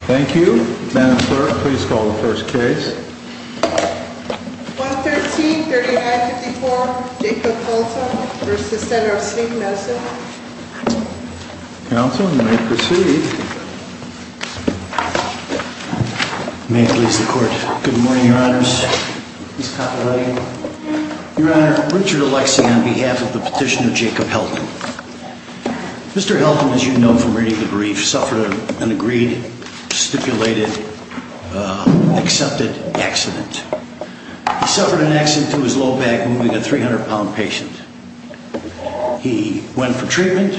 Thank you. Madam Clerk, please call the first case. 113-3954, Jacob Haltom v. Senator Steve Nelson. Counsel, you may proceed. May it please the Court. Good morning, Your Honors. Your Honor, Richard Alexey on behalf of the petitioner Jacob Haltom. Mr. Haltom, as you know from reading the brief, suffered an agreed, stipulated, accepted accident. He suffered an accident to his low back moving a 300-pound patient. He went for treatment,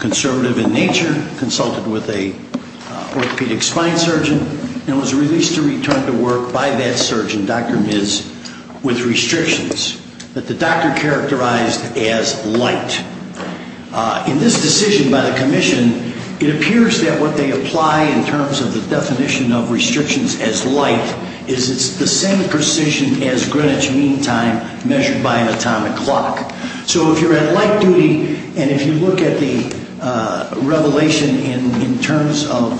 conservative in nature, consulted with an orthopedic spine surgeon, and was released to return to work by that surgeon, Dr. Miz, with restrictions that the doctor characterized as light. In this decision by the Commission, it appears that what they apply in terms of the definition of restrictions as light is it's the same precision as Greenwich Mean Time measured by an atomic clock. So if you're at light duty, and if you look at the revelation in terms of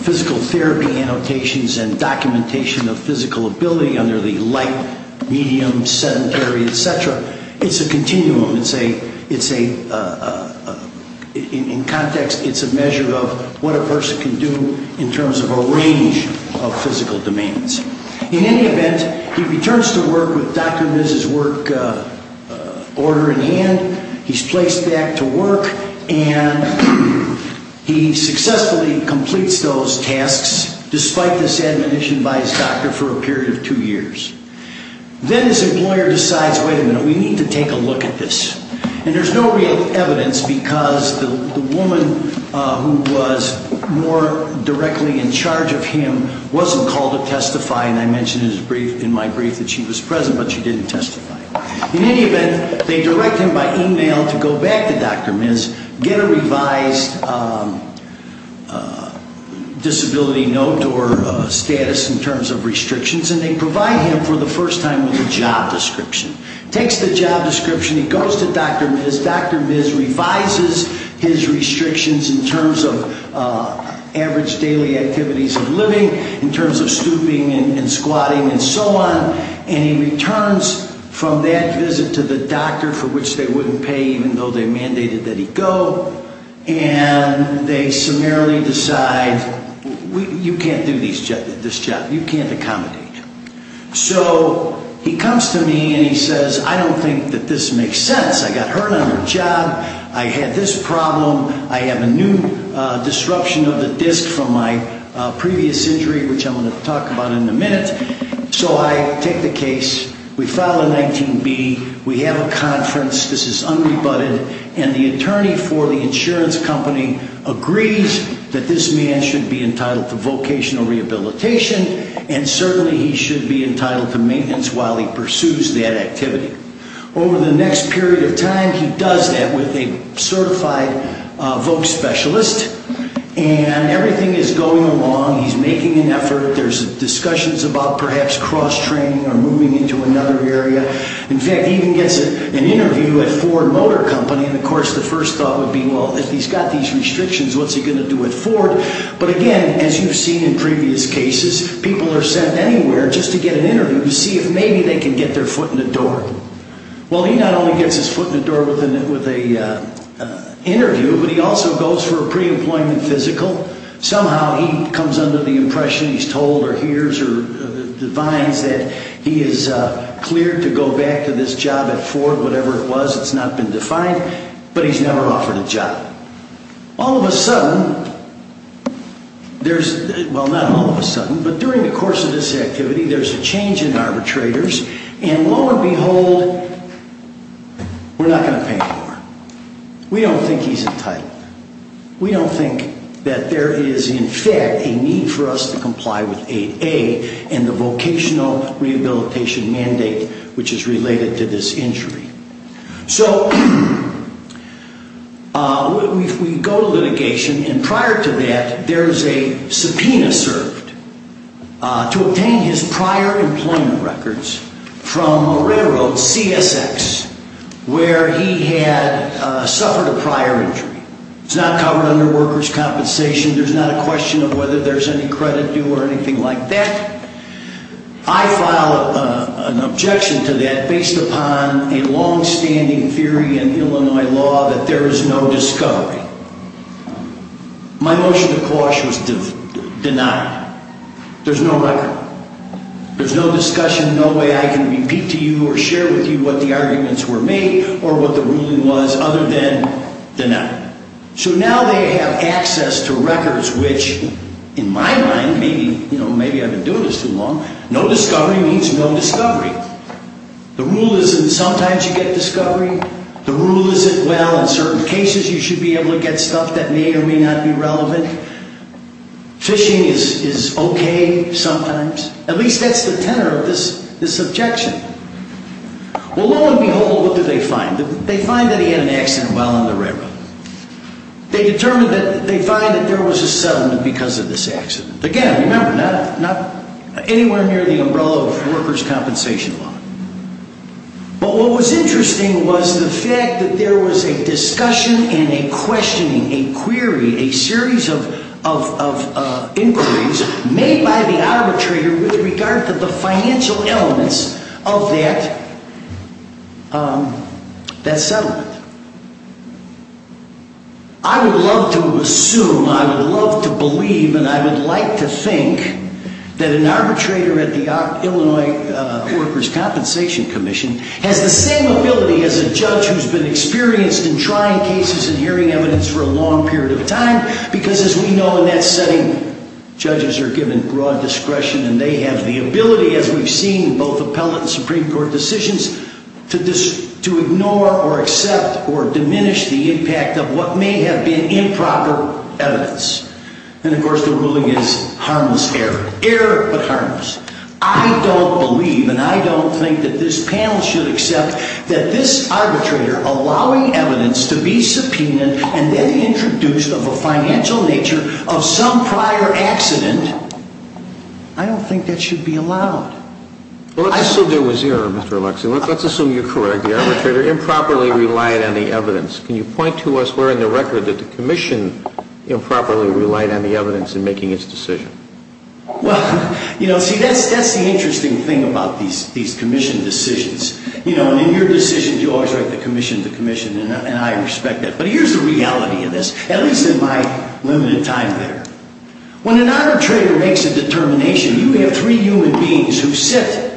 physical therapy annotations and documentation of physical ability under the light, medium, sedentary, etc., it's a continuum. In context, it's a measure of what a person can do in terms of a range of physical demands. In any event, he returns to work with Dr. Miz's work order in hand. He's placed back to work, and he successfully completes those tasks, despite this admonition by his doctor for a period of two years. Then his employer decides, wait a minute, we need to take a look at this. And there's no real evidence because the woman who was more directly in charge of him wasn't called to testify, and I mentioned in my brief that she was present, but she didn't testify. In any event, they direct him by email to go back to Dr. Miz, get a revised disability note or status in terms of restrictions, and they provide him for the first time with a job description. Takes the job description, he goes to Dr. Miz. Dr. Miz revises his restrictions in terms of average daily activities of living, in terms of stooping and squatting and so on, and he returns from that visit to the doctor for which they wouldn't pay even though they mandated that he go, and they summarily decide, you can't do this job. You can't accommodate him. So he comes to me and he says, I don't think that this makes sense. I got hurt on the job. I had this problem. I have a new disruption of the disc from my previous injury, which I'm going to talk about in a minute. So I take the case. We file a 19B. We have a conference. This is unrebutted. And the attorney for the insurance company agrees that this man should be entitled to vocational rehabilitation, and certainly he should be entitled to maintenance while he pursues that activity. Over the next period of time, he does that with a certified voc specialist, and everything is going along. He's making an effort. There's discussions about perhaps cross-training or moving into another area. In fact, he even gets an interview at Ford Motor Company, and, of course, the first thought would be, well, if he's got these restrictions, what's he going to do at Ford? But, again, as you've seen in previous cases, people are sent anywhere just to get an interview to see if maybe they can get their foot in the door. Well, he not only gets his foot in the door with an interview, but he also goes for a preemployment physical. Somehow he comes under the impression, he's told or hears or defines that he is cleared to go back to this job at Ford, whatever it was, it's not been defined, but he's never offered a job. All of a sudden, there's, well, not all of a sudden, but during the course of this activity, there's a change in arbitrators, and lo and behold, we're not going to pay him more. We don't think he's entitled. We don't think that there is, in fact, a need for us to comply with 8A and the vocational rehabilitation mandate which is related to this injury. So, we go to litigation, and prior to that, there's a subpoena served to obtain his prior employment records from a railroad, CSX, where he had suffered a prior injury. It's not covered under workers' compensation. There's not a question of whether there's any credit due or anything like that. I file an objection to that based upon a longstanding theory in Illinois law that there is no discovery. My motion to quash was denied. There's no record. There's no discussion, no way I can repeat to you or share with you what the arguments were made or what the ruling was other than denied. So, now they have access to records which, in my mind, maybe I've been doing this too long, no discovery means no discovery. The rule isn't sometimes you get discovery. The rule isn't, well, in certain cases you should be able to get stuff that may or may not be relevant. Phishing is okay sometimes. At least that's the tenor of this objection. Well, lo and behold, what did they find? They find that he had an accident while on the railroad. They determined that they find that there was a settlement because of this accident. Again, remember, not anywhere near the umbrella of workers' compensation law. But what was interesting was the fact that there was a discussion and a questioning, a query, a series of inquiries made by the arbitrator with regard to the financial elements of that settlement. I would love to assume, I would love to believe, and I would like to think that an arbitrator at the Illinois Workers' Compensation Commission has the same ability as a judge who's been experienced in trying cases and hearing evidence for a long period of time because, as we know, in that setting, judges are given broad discretion and they have the ability, as we've seen in both appellate and Supreme Court decisions, to ignore or accept or diminish the impact of what may have been improper evidence. And, of course, the ruling is harmless error. Error, but harmless. I don't believe, and I don't think that this panel should accept, that this arbitrator allowing evidence to be subpoenaed and then introduced of a financial nature of some prior accident, I don't think that should be allowed. Well, let's assume there was error, Mr. Alexey. Let's assume you're correct. The arbitrator improperly relied on the evidence. Can you point to us where in the record that the commission improperly relied on the evidence in making its decision? Well, you know, see, that's the interesting thing about these commission decisions. You know, in your decisions, you always write the commission the commission, and I respect that. But here's the reality of this, at least in my limited time there. When an arbitrator makes a determination, you have three human beings who sit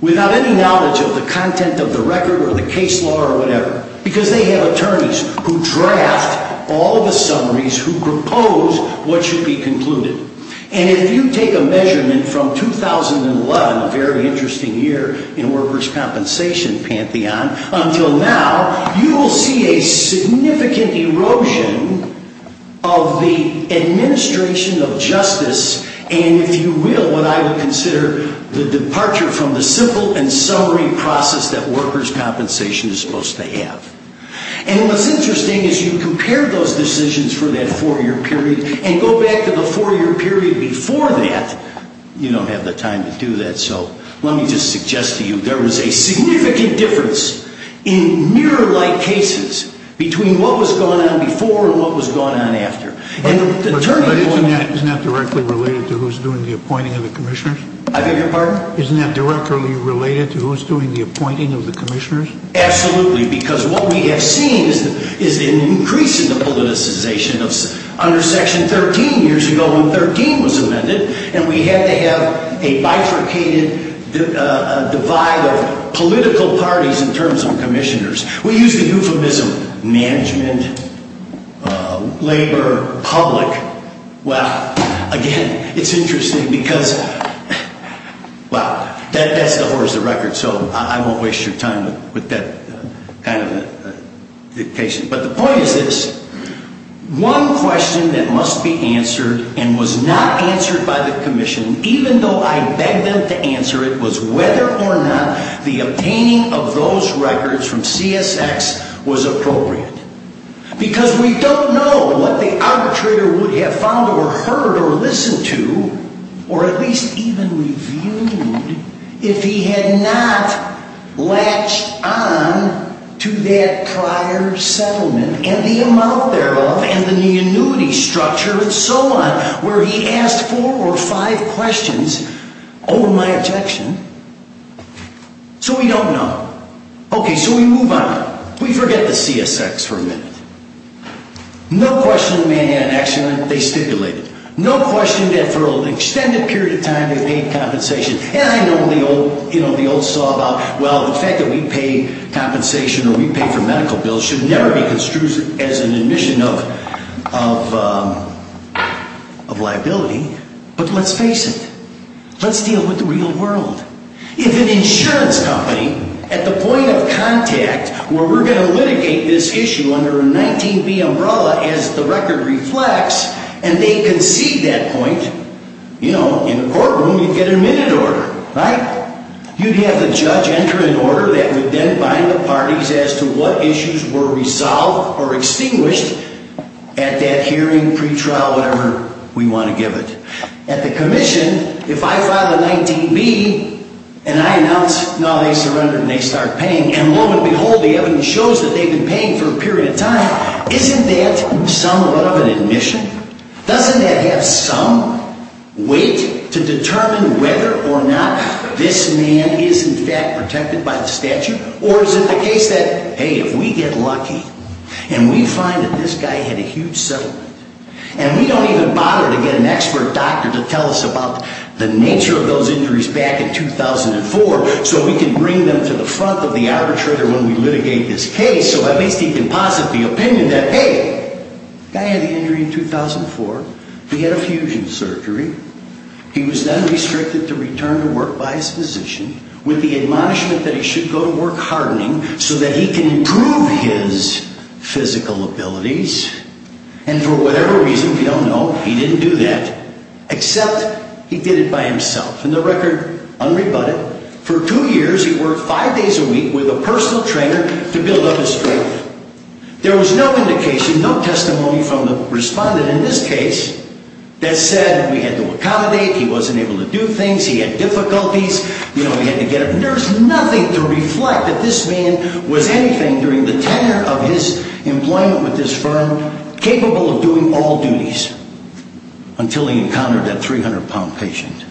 without any knowledge of the content of the record or the case law or whatever because they have attorneys who draft all the summaries who propose what should be concluded. And if you take a measurement from 2011, a very interesting year in workers' compensation pantheon, until now, you will see a significant erosion of the administration of justice and, if you will, what I would consider the departure from the simple and summary process that workers' compensation is supposed to have. And what's interesting is you compare those decisions for that four-year period and go back to the four-year period before that. You don't have the time to do that, so let me just suggest to you there was a significant difference in mirror-like cases between what was going on before and what was going on after. But isn't that directly related to who's doing the appointing of the commissioners? I beg your pardon? Isn't that directly related to who's doing the appointing of the commissioners? Absolutely, because what we have seen is an increase in the politicization under Section 13 years ago when 13 was amended, and we had to have a bifurcated divide of political parties in terms of commissioners. We use the euphemism management, labor, public. Well, again, it's interesting because, well, that's the horror of the record, so I won't waste your time with that kind of a dictation. But the point is this. One question that must be answered and was not answered by the commission, even though I begged them to answer it, was whether or not the obtaining of those records from CSX was appropriate. Because we don't know what the arbitrator would have found or heard or listened to or at least even reviewed if he had not latched on to that prior settlement and the amount thereof and the annuity structure and so on, where he asked four or five questions. Oh, my objection. So we don't know. Okay, so we move on. We forget the CSX for a minute. No question the man had an accident. They stipulated it. No question that for an extended period of time they paid compensation. And I know the old saw about, well, the fact that we pay compensation or we pay for medical bills should never be construed as an admission of liability. But let's face it. Let's deal with the real world. If an insurance company at the point of contact where we're going to litigate this issue under a 19B umbrella as the record reflects and they concede that point, you know, in the courtroom you'd get a minute order, right? You'd have the judge enter an order that would then bind the parties as to what issues were resolved or extinguished at that hearing, pretrial, whatever we want to give it. At the commission, if I file a 19B and I announce, no, they surrender and they start paying, and lo and behold, the evidence shows that they've been paying for a period of time, isn't that somewhat of an admission? Doesn't that have some weight to determine whether or not this man is in fact protected by the statute? Or is it the case that, hey, if we get lucky and we find that this guy had a huge settlement and we don't even bother to get an expert doctor to tell us about the nature of those injuries back in 2004 so we can bring them to the front of the arbitrator when we litigate this case so at least he can posit the opinion that, hey, the guy had the injury in 2004, he had a fusion surgery, he was then restricted to return to work by his physician with the admonishment that he should go to work hardening so that he can improve his physical abilities and for whatever reason, we don't know, he didn't do that, except he did it by himself. And the record, unrebutted, for two years he worked five days a week with a personal trainer to build up his strength. There was no indication, no testimony from the respondent in this case that said we had to accommodate, he wasn't able to do things, he had difficulties, there's nothing to reflect that this man was anything during the tenure of his employment with this firm capable of doing all duties until he encountered that 300 pound patient.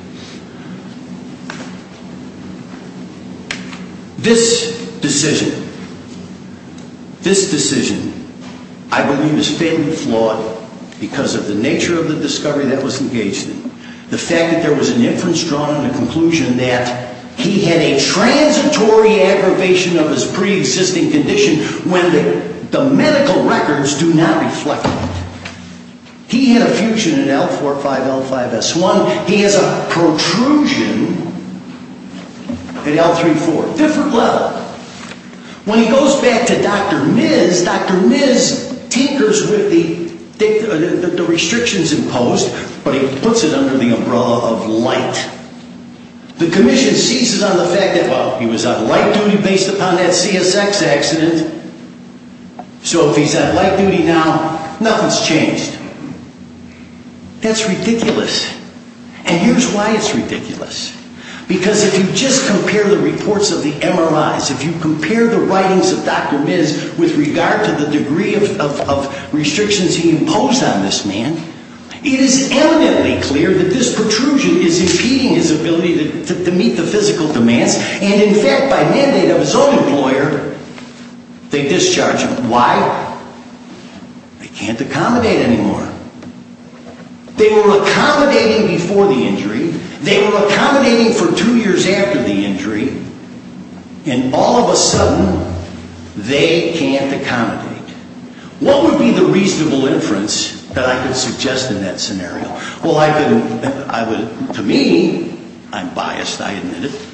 This decision, this decision, I believe is fairly flawed because of the nature of the discovery that was engaged in. The fact that there was an inference drawn on the conclusion that he had a transitory aggravation of his pre-existing condition when the medical records do not reflect that. He had a fusion in L4-5, L5-S1, he has a protrusion in L3-4, different level. When he goes back to Dr. Miz, Dr. Miz tinkers with the restrictions imposed but he puts it under the umbrella of light. The commission seizes on the fact that, well, he was on light duty based upon that CSX accident. So if he's on light duty now, nothing's changed. That's ridiculous. And here's why it's ridiculous. Because if you just compare the reports of the MRIs, if you compare the writings of Dr. Miz with regard to the degree of restrictions he imposed on this man it is evidently clear that this protrusion is impeding his ability to meet the physical demands and in fact by mandate of his own employer, they discharge him. Why? They can't accommodate anymore. They were accommodating before the injury, they were accommodating for two years after the injury What would be the reasonable inference that I could suggest in that scenario? To me, I'm biased, I admit it,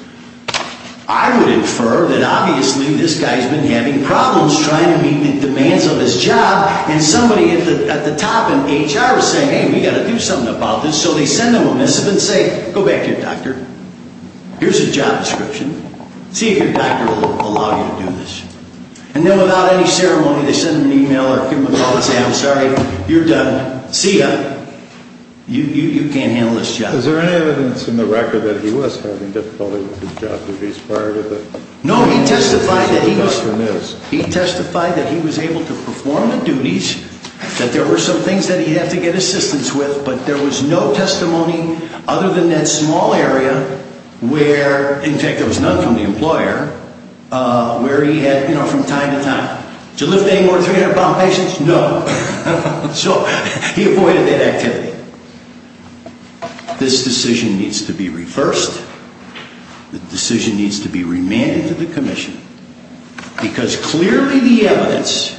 I would infer that obviously this guy's been having problems trying to meet the demands of his job and somebody at the top in HR is saying hey, we've got to do something about this, so they send him a missive and say go back to your doctor, here's a job description, see if your doctor will allow you to do this. And then without any ceremony, they send him an email or give him a call and say I'm sorry, you're done, see ya, you can't handle this job. Is there any evidence in the record that he was having difficulty with his job duties prior to this? No, he testified that he was able to perform the duties, that there were some things that he had to get assistance with but there was no testimony other than that small area where, in fact there was none from the employer where he had, you know, from time to time. Did you lift any more 300 pound patients? No. So, he avoided that activity. This decision needs to be reversed, the decision needs to be remanded to the commission because clearly the evidence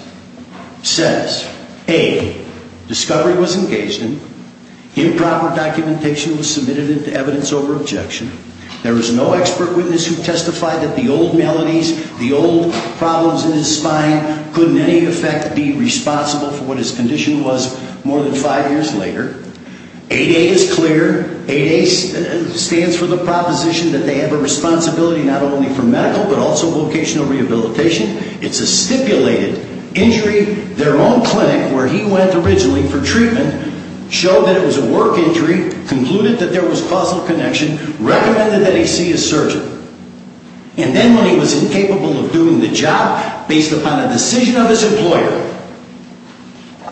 says, A, discovery was engaged in, improper documentation was submitted into evidence over objection there was no expert witness who testified that the old maladies, the old problems in his spine could in any effect be responsible for what his condition was more than five years later. 8A is clear, 8A stands for the proposition that they have a responsibility not only for medical but also vocational rehabilitation. It's a stipulated injury, their own clinic where he went originally for treatment showed that it was a work injury, concluded that there was causal connection, recommended that he see a surgeon and then when he was incapable of doing the job based upon a decision of his employer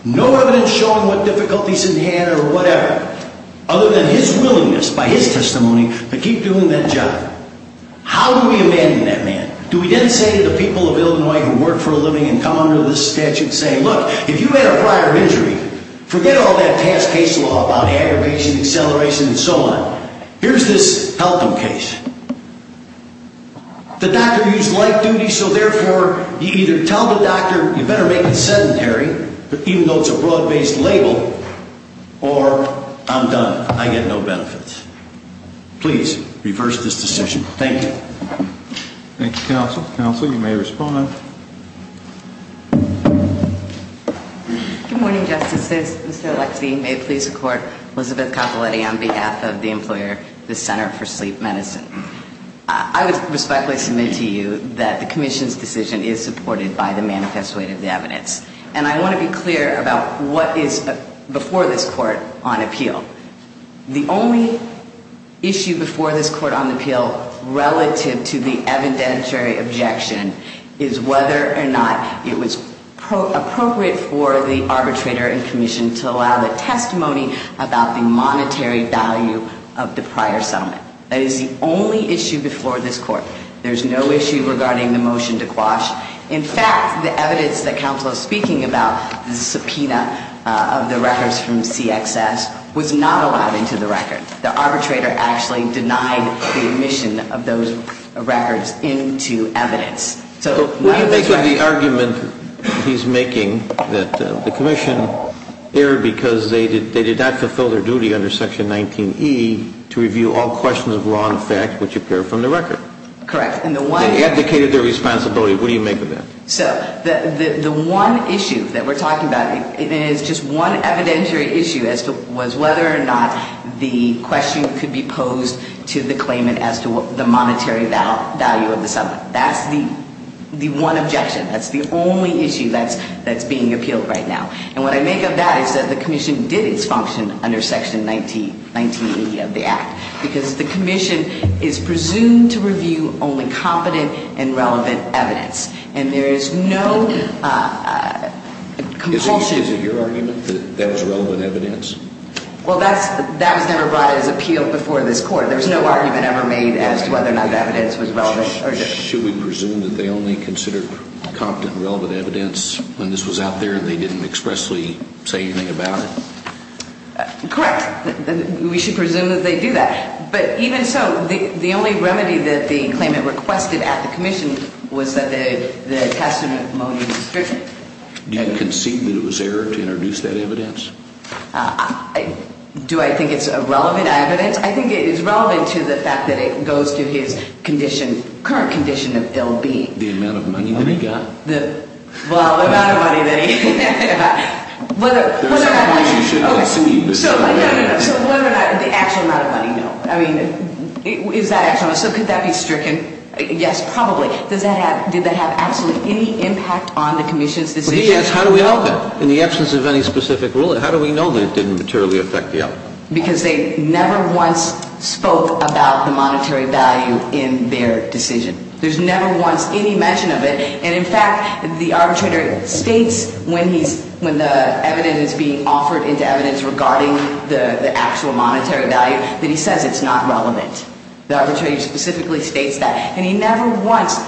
no evidence showing what difficulties he had or whatever other than his willingness by his testimony to keep doing that job. How do we abandon that man? Do we then say to the people of Illinois who work for a living and come under this statute and say, look, if you had a prior injury, forget all that past case law about aggravation, acceleration and so on here's this help him case. The doctor used light duty so therefore you either tell the doctor you better make it sedentary even though it's a broad based label or I'm done, I get no benefits. Please, reverse this decision. Thank you. Thank you, counsel. Counsel, you may respond. Good morning, justices. Mr. Alexie, may it please the court. Elizabeth Capoletti on behalf of the employer, the Center for Sleep Medicine. I would respectfully submit to you that the commission's decision is supported by the manifest weight of the evidence. And I want to be clear about what is before this court on appeal. The only issue before this court on appeal relative to the evidentiary objection is whether or not it was appropriate for the arbitrator and commission to allow the testimony about the monetary value of the prior settlement. That is the only issue before this court. There's no issue regarding the motion to quash. In fact, the evidence that counsel is speaking about, the subpoena of the records from CXS, was not allowed into the record. The arbitrator actually denied the admission of those records into evidence. So the argument he's making that the commission erred because they did not fulfill their duty under section 19E to review all questions of law and effect which appear from the record. Correct. They abdicated their responsibility. What do you make of that? So the one issue that we're talking about is just one evidentiary issue as to whether or not the question could be posed to the claimant as to the monetary value of the settlement. That's the one objection. That's the only issue that's being appealed right now. And what I make of that is that the commission did its function under section 19E of the act. Because the commission is presumed to review only competent and relevant evidence. And there is no compulsion... Is it your argument that that was relevant evidence? Well, that was never brought as appeal before this court. There was no argument ever made as to whether or not the evidence was relevant or not. Should we presume that they only considered competent and relevant evidence when this was out there and they didn't expressly say anything about it? Correct. We should presume that they do that. But even so, the only remedy that the claimant requested at the commission was that the testament motive was stricter. Do you concede that it was error to introduce that evidence? Do I think it's relevant evidence? I think it is relevant to the fact that it goes to his current condition of ill-being. The amount of money that he got? Well, the amount of money that he got. There are several ways you should elucidate this. So whether or not the actual amount of money, no. I mean, is that actual? So could that be stricken? Yes, probably. Did that have absolutely any impact on the commission's decision? Well, he asked how do we know that. In the absence of any specific rule, how do we know that it didn't materially affect the outcome? Because they never once spoke about the monetary value in their decision. There's never once any mention of it. And in fact, the arbitrator states when the evidence is being offered into evidence regarding the actual monetary value that he says it's not relevant. The arbitrator specifically states that. And he never once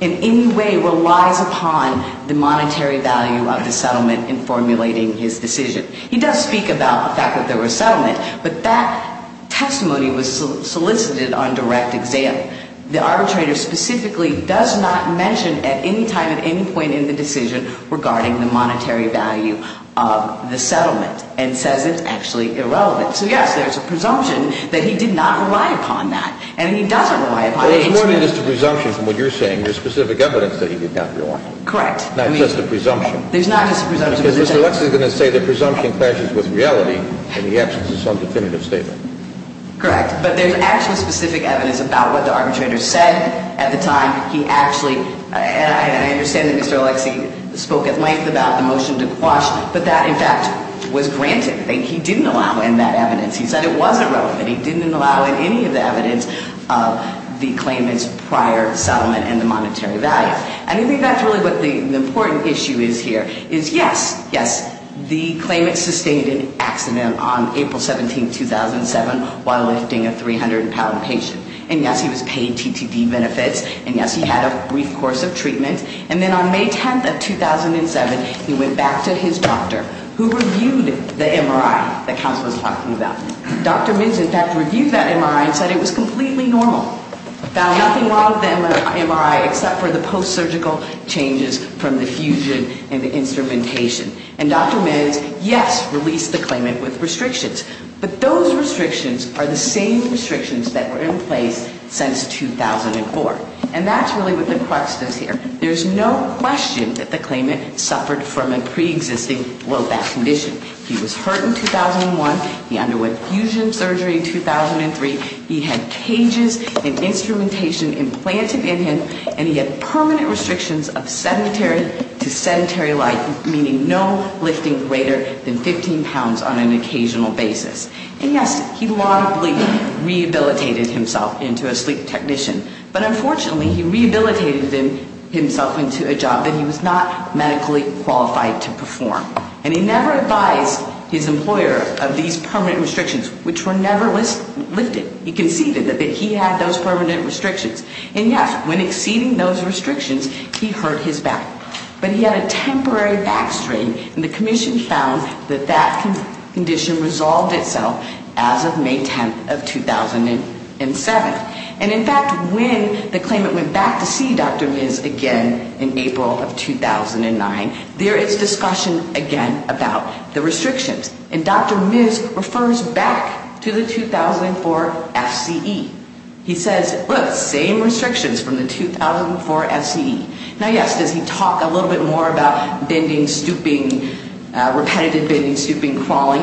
in any way relies upon the monetary value of the settlement in formulating his decision. He does speak about the fact that there was settlement, but that testimony was solicited on direct exam. The arbitrator specifically does not mention at any time at any point in the decision regarding the monetary value of the settlement and says it's actually irrelevant. So, yes, there's a presumption that he did not rely upon that. And he doesn't rely upon it. But it's more than just a presumption from what you're saying. There's specific evidence that he did not rely upon it. Correct. Not just a presumption. There's not just a presumption. Because Mr. Lex is going to say the presumption clashes with reality, and he acts as his own definitive statement. Correct. But there's actually specific evidence about what the arbitrator said at the time. He actually, and I understand that Mr. Lex spoke at length about the motion to quash, but that, in fact, was granted. He didn't allow in that evidence. He said it wasn't relevant. He didn't allow in any of the evidence the claimant's prior settlement and the monetary value. And I think that's really what the important issue is here is, yes, yes, the claimant sustained an accident on April 17, 2007, while lifting a 300-pound patient. And, yes, he was paid TTD benefits. And, yes, he had a brief course of treatment. And then on May 10th of 2007, he went back to his doctor, who reviewed the MRI that Counsel was talking about. Dr. Mintz, in fact, reviewed that MRI and said it was completely normal. Found nothing wrong with the MRI except for the post-surgical changes from the fusion and the instrumentation. And Dr. Mintz, yes, released the claimant with restrictions. But those restrictions are the same restrictions that were in place since 2004. And that's really what the crux is here. There's no question that the claimant suffered from a preexisting low back condition. He was hurt in 2001. He underwent fusion surgery in 2003. He had cages and instrumentation implanted in him. And he had permanent restrictions of sedentary to sedentary life, meaning no lifting greater than 15 pounds on an occasional basis. And, yes, he laudably rehabilitated himself into a sleep technician. But, unfortunately, he rehabilitated himself into a job that he was not medically qualified to perform. And he never advised his employer of these permanent restrictions, which were never lifted. He conceded that he had those permanent restrictions. And, yes, when exceeding those restrictions, he hurt his back. But he had a temporary back strain. And the commission found that that condition resolved itself as of May 10th of 2007. And, in fact, when the claimant went back to see Dr. Miz again in April of 2009, there is discussion again about the restrictions. And Dr. Miz refers back to the 2004 FCE. He says, look, same restrictions from the 2004 FCE. Now, yes, does he talk a little bit more about bending, stooping, repetitive bending, stooping, crawling?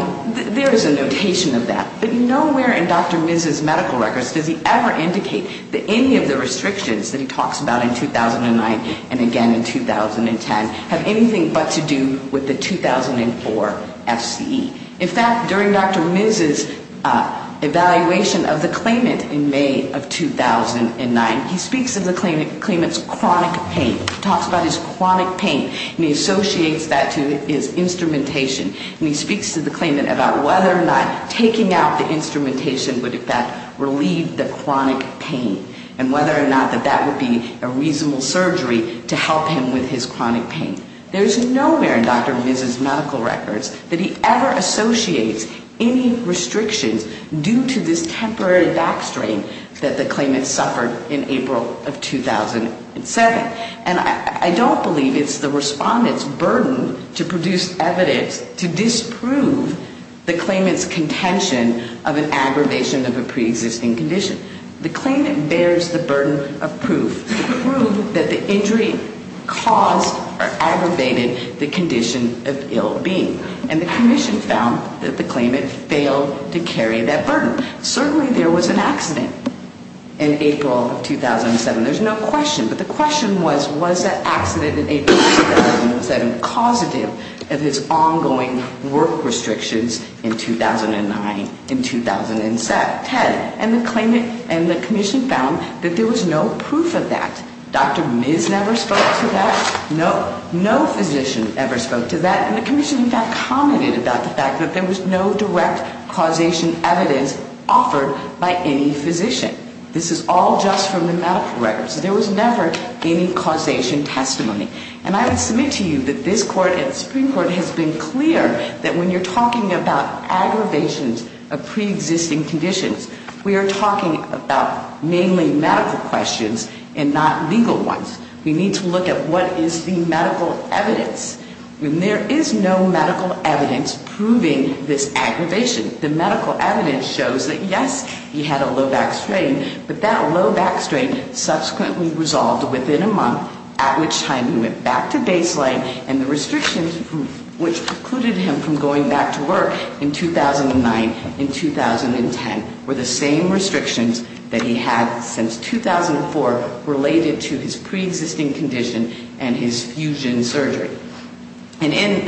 There is a notation of that. But nowhere in Dr. Miz's medical records does he ever indicate that any of the restrictions that he talks about in 2009 and again in 2010 have anything but to do with the 2004 FCE. In fact, during Dr. Miz's evaluation of the claimant in May of 2009, he speaks of the claimant's chronic pain. He talks about his chronic pain. And he associates that to his instrumentation. And he speaks to the claimant about whether or not taking out the instrumentation would, in fact, relieve the chronic pain. And whether or not that that would be a reasonable surgery to help him with his chronic pain. There is nowhere in Dr. Miz's medical records that he ever associates any restrictions due to this temporary back strain that the claimant suffered in April of 2007. And I don't believe it's the respondent's burden to produce evidence to disprove the claimant's contention of an aggravation of a preexisting condition. The claimant bears the burden of proof to prove that the injury caused or aggravated the condition of ill being. And the commission found that the claimant failed to carry that burden. Certainly, there was an accident in April of 2007. There's no question. But the question was, was that accident in April of 2007 causative of his ongoing work restrictions in 2009, in 2010? And the claimant and the commission found that there was no proof of that. Dr. Miz never spoke to that. No physician ever spoke to that. And the commission, in fact, commented about the fact that there was no direct causation evidence offered by any physician. This is all just from the medical records. There was never any causation testimony. And I would submit to you that this Court and the Supreme Court has been clear that when you're talking about aggravations of preexisting conditions, we are talking about mainly medical questions and not legal ones. We need to look at what is the medical evidence. There is no medical evidence proving this aggravation. The medical evidence shows that, yes, he had a low back strain. But that low back strain subsequently resolved within a month, at which time he went back to baseline. And the restrictions which precluded him from going back to work in 2009, in 2010, were the same restrictions that he had since 2004 related to his preexisting condition and his fusion surgery. And in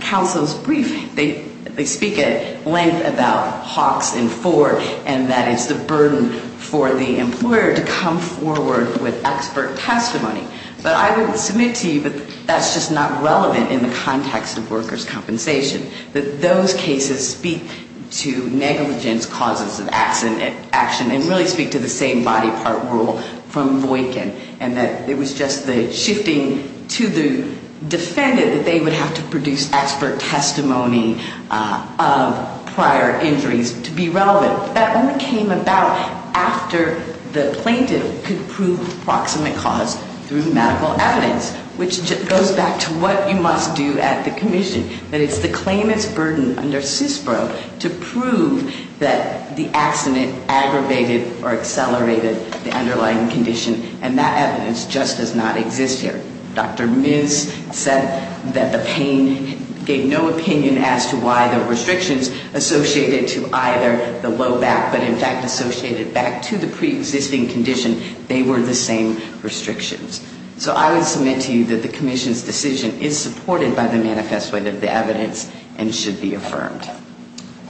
counsel's brief, they speak at length about Hawks and Ford, and that it's the burden for the employer to come forward with expert testimony. But I would submit to you that that's just not relevant in the context of workers' compensation, that those cases speak to negligence causes of action and really speak to the same body part rule from Boykin, and that it was just the shifting to the defendant that they would have to produce expert testimony of prior injuries to be relevant. That only came about after the plaintiff could prove proximate cause through medical evidence, which goes back to what you must do at the commission, that it's the claimant's burden under CISPRO to prove that the accident aggravated or accelerated the underlying condition, and that evidence just does not exist here. Dr. Miz said that the pain gave no opinion as to why the restrictions associated to either the low back, but in fact associated back to the preexisting condition, they were the same restrictions. So I would submit to you that the commission's decision is supported by the manifesto of the evidence and should be affirmed.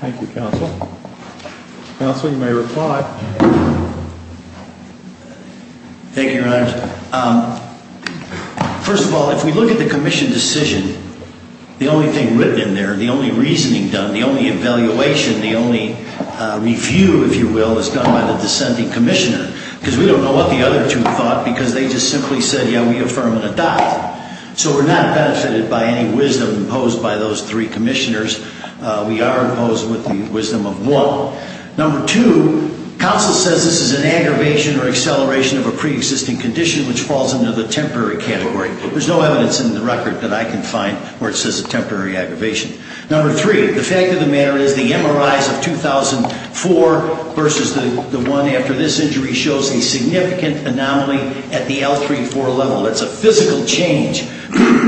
Thank you, Counsel. Counsel, you may reply. Thank you, Your Honors. First of all, if we look at the commission decision, the only thing written in there, the only reasoning done, the only evaluation, the only review, if you will, is done by the dissenting commissioner, because we don't know what the other two thought because they just simply said, yeah, we affirm and adopt. So we're not benefited by any wisdom imposed by those three commissioners. We are imposed with the wisdom of one. Number two, counsel says this is an aggravation or acceleration of a preexisting condition which falls under the temporary category. There's no evidence in the record that I can find where it says a temporary aggravation. Number three, the fact of the matter is the MRIs of 2004 versus the one after this injury shows a significant anomaly at the L3-4 level. It's a physical change.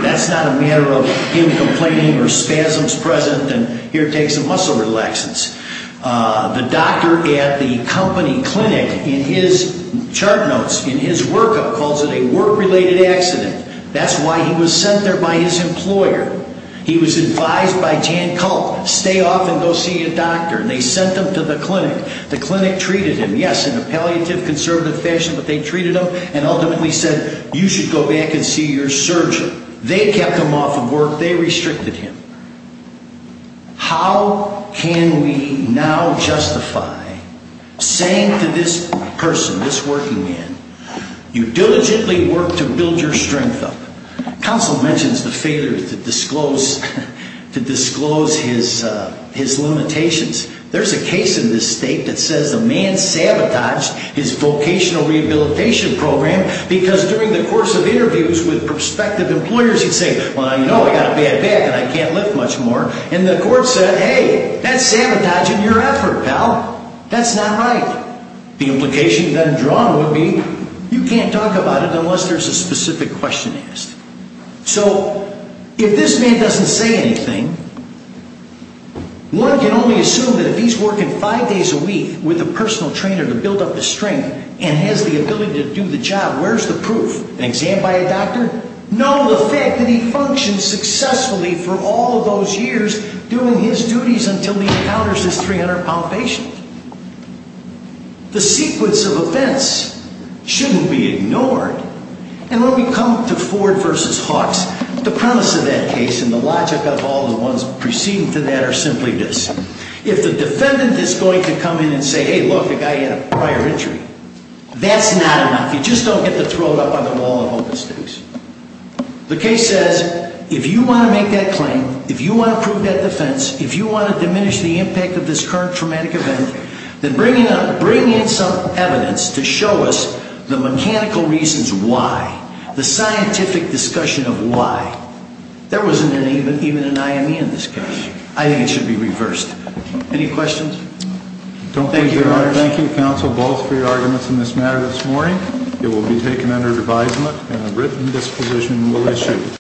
That's not a matter of him complaining or spasms present and here it takes some muscle relaxants. The doctor at the company clinic in his chart notes, in his workup, calls it a work-related accident. That's why he was sent there by his employer. He was advised by Jan Kulp, stay off and go see a doctor, and they sent him to the clinic. The clinic treated him, yes, in a palliative, conservative fashion, but they treated him and ultimately said you should go back and see your surgeon. They kept him off of work. They restricted him. How can we now justify saying to this person, this working man, you diligently work to build your strength up? Counsel mentions the failure to disclose his limitations. There's a case in this state that says the man sabotaged his vocational rehabilitation program because during the course of interviews with prospective employers he'd say, well, you know, I've got a bad back and I can't lift much more. And the court said, hey, that's sabotaging your effort, pal. That's not right. The implication then drawn would be you can't talk about it unless there's a specific question asked. So if this man doesn't say anything, one can only assume that if he's working five days a week with a personal trainer to build up his strength and has the ability to do the job, where's the proof? An exam by a doctor? No, the fact that he functions successfully for all those years doing his duties until he encounters this 300-pound patient. The sequence of events shouldn't be ignored. And when we come to Ford v. Hawks, the premise of that case and the logic of all the ones preceding to that are simply this. If the defendant is going to come in and say, hey, look, the guy had a prior injury, that's not enough. You just don't get to throw it up on the wall of open space. The case says if you want to make that claim, if you want to prove that defense, if you want to diminish the impact of this current traumatic event, then bring in some evidence to show us the mechanical reasons why, the scientific discussion of why. There wasn't even an IME in this case. I think it should be reversed. Any questions? Thank you, Your Honor. Thank you, counsel, both for your arguments in this matter this morning. It will be taken under advisement and a written disposition will issue.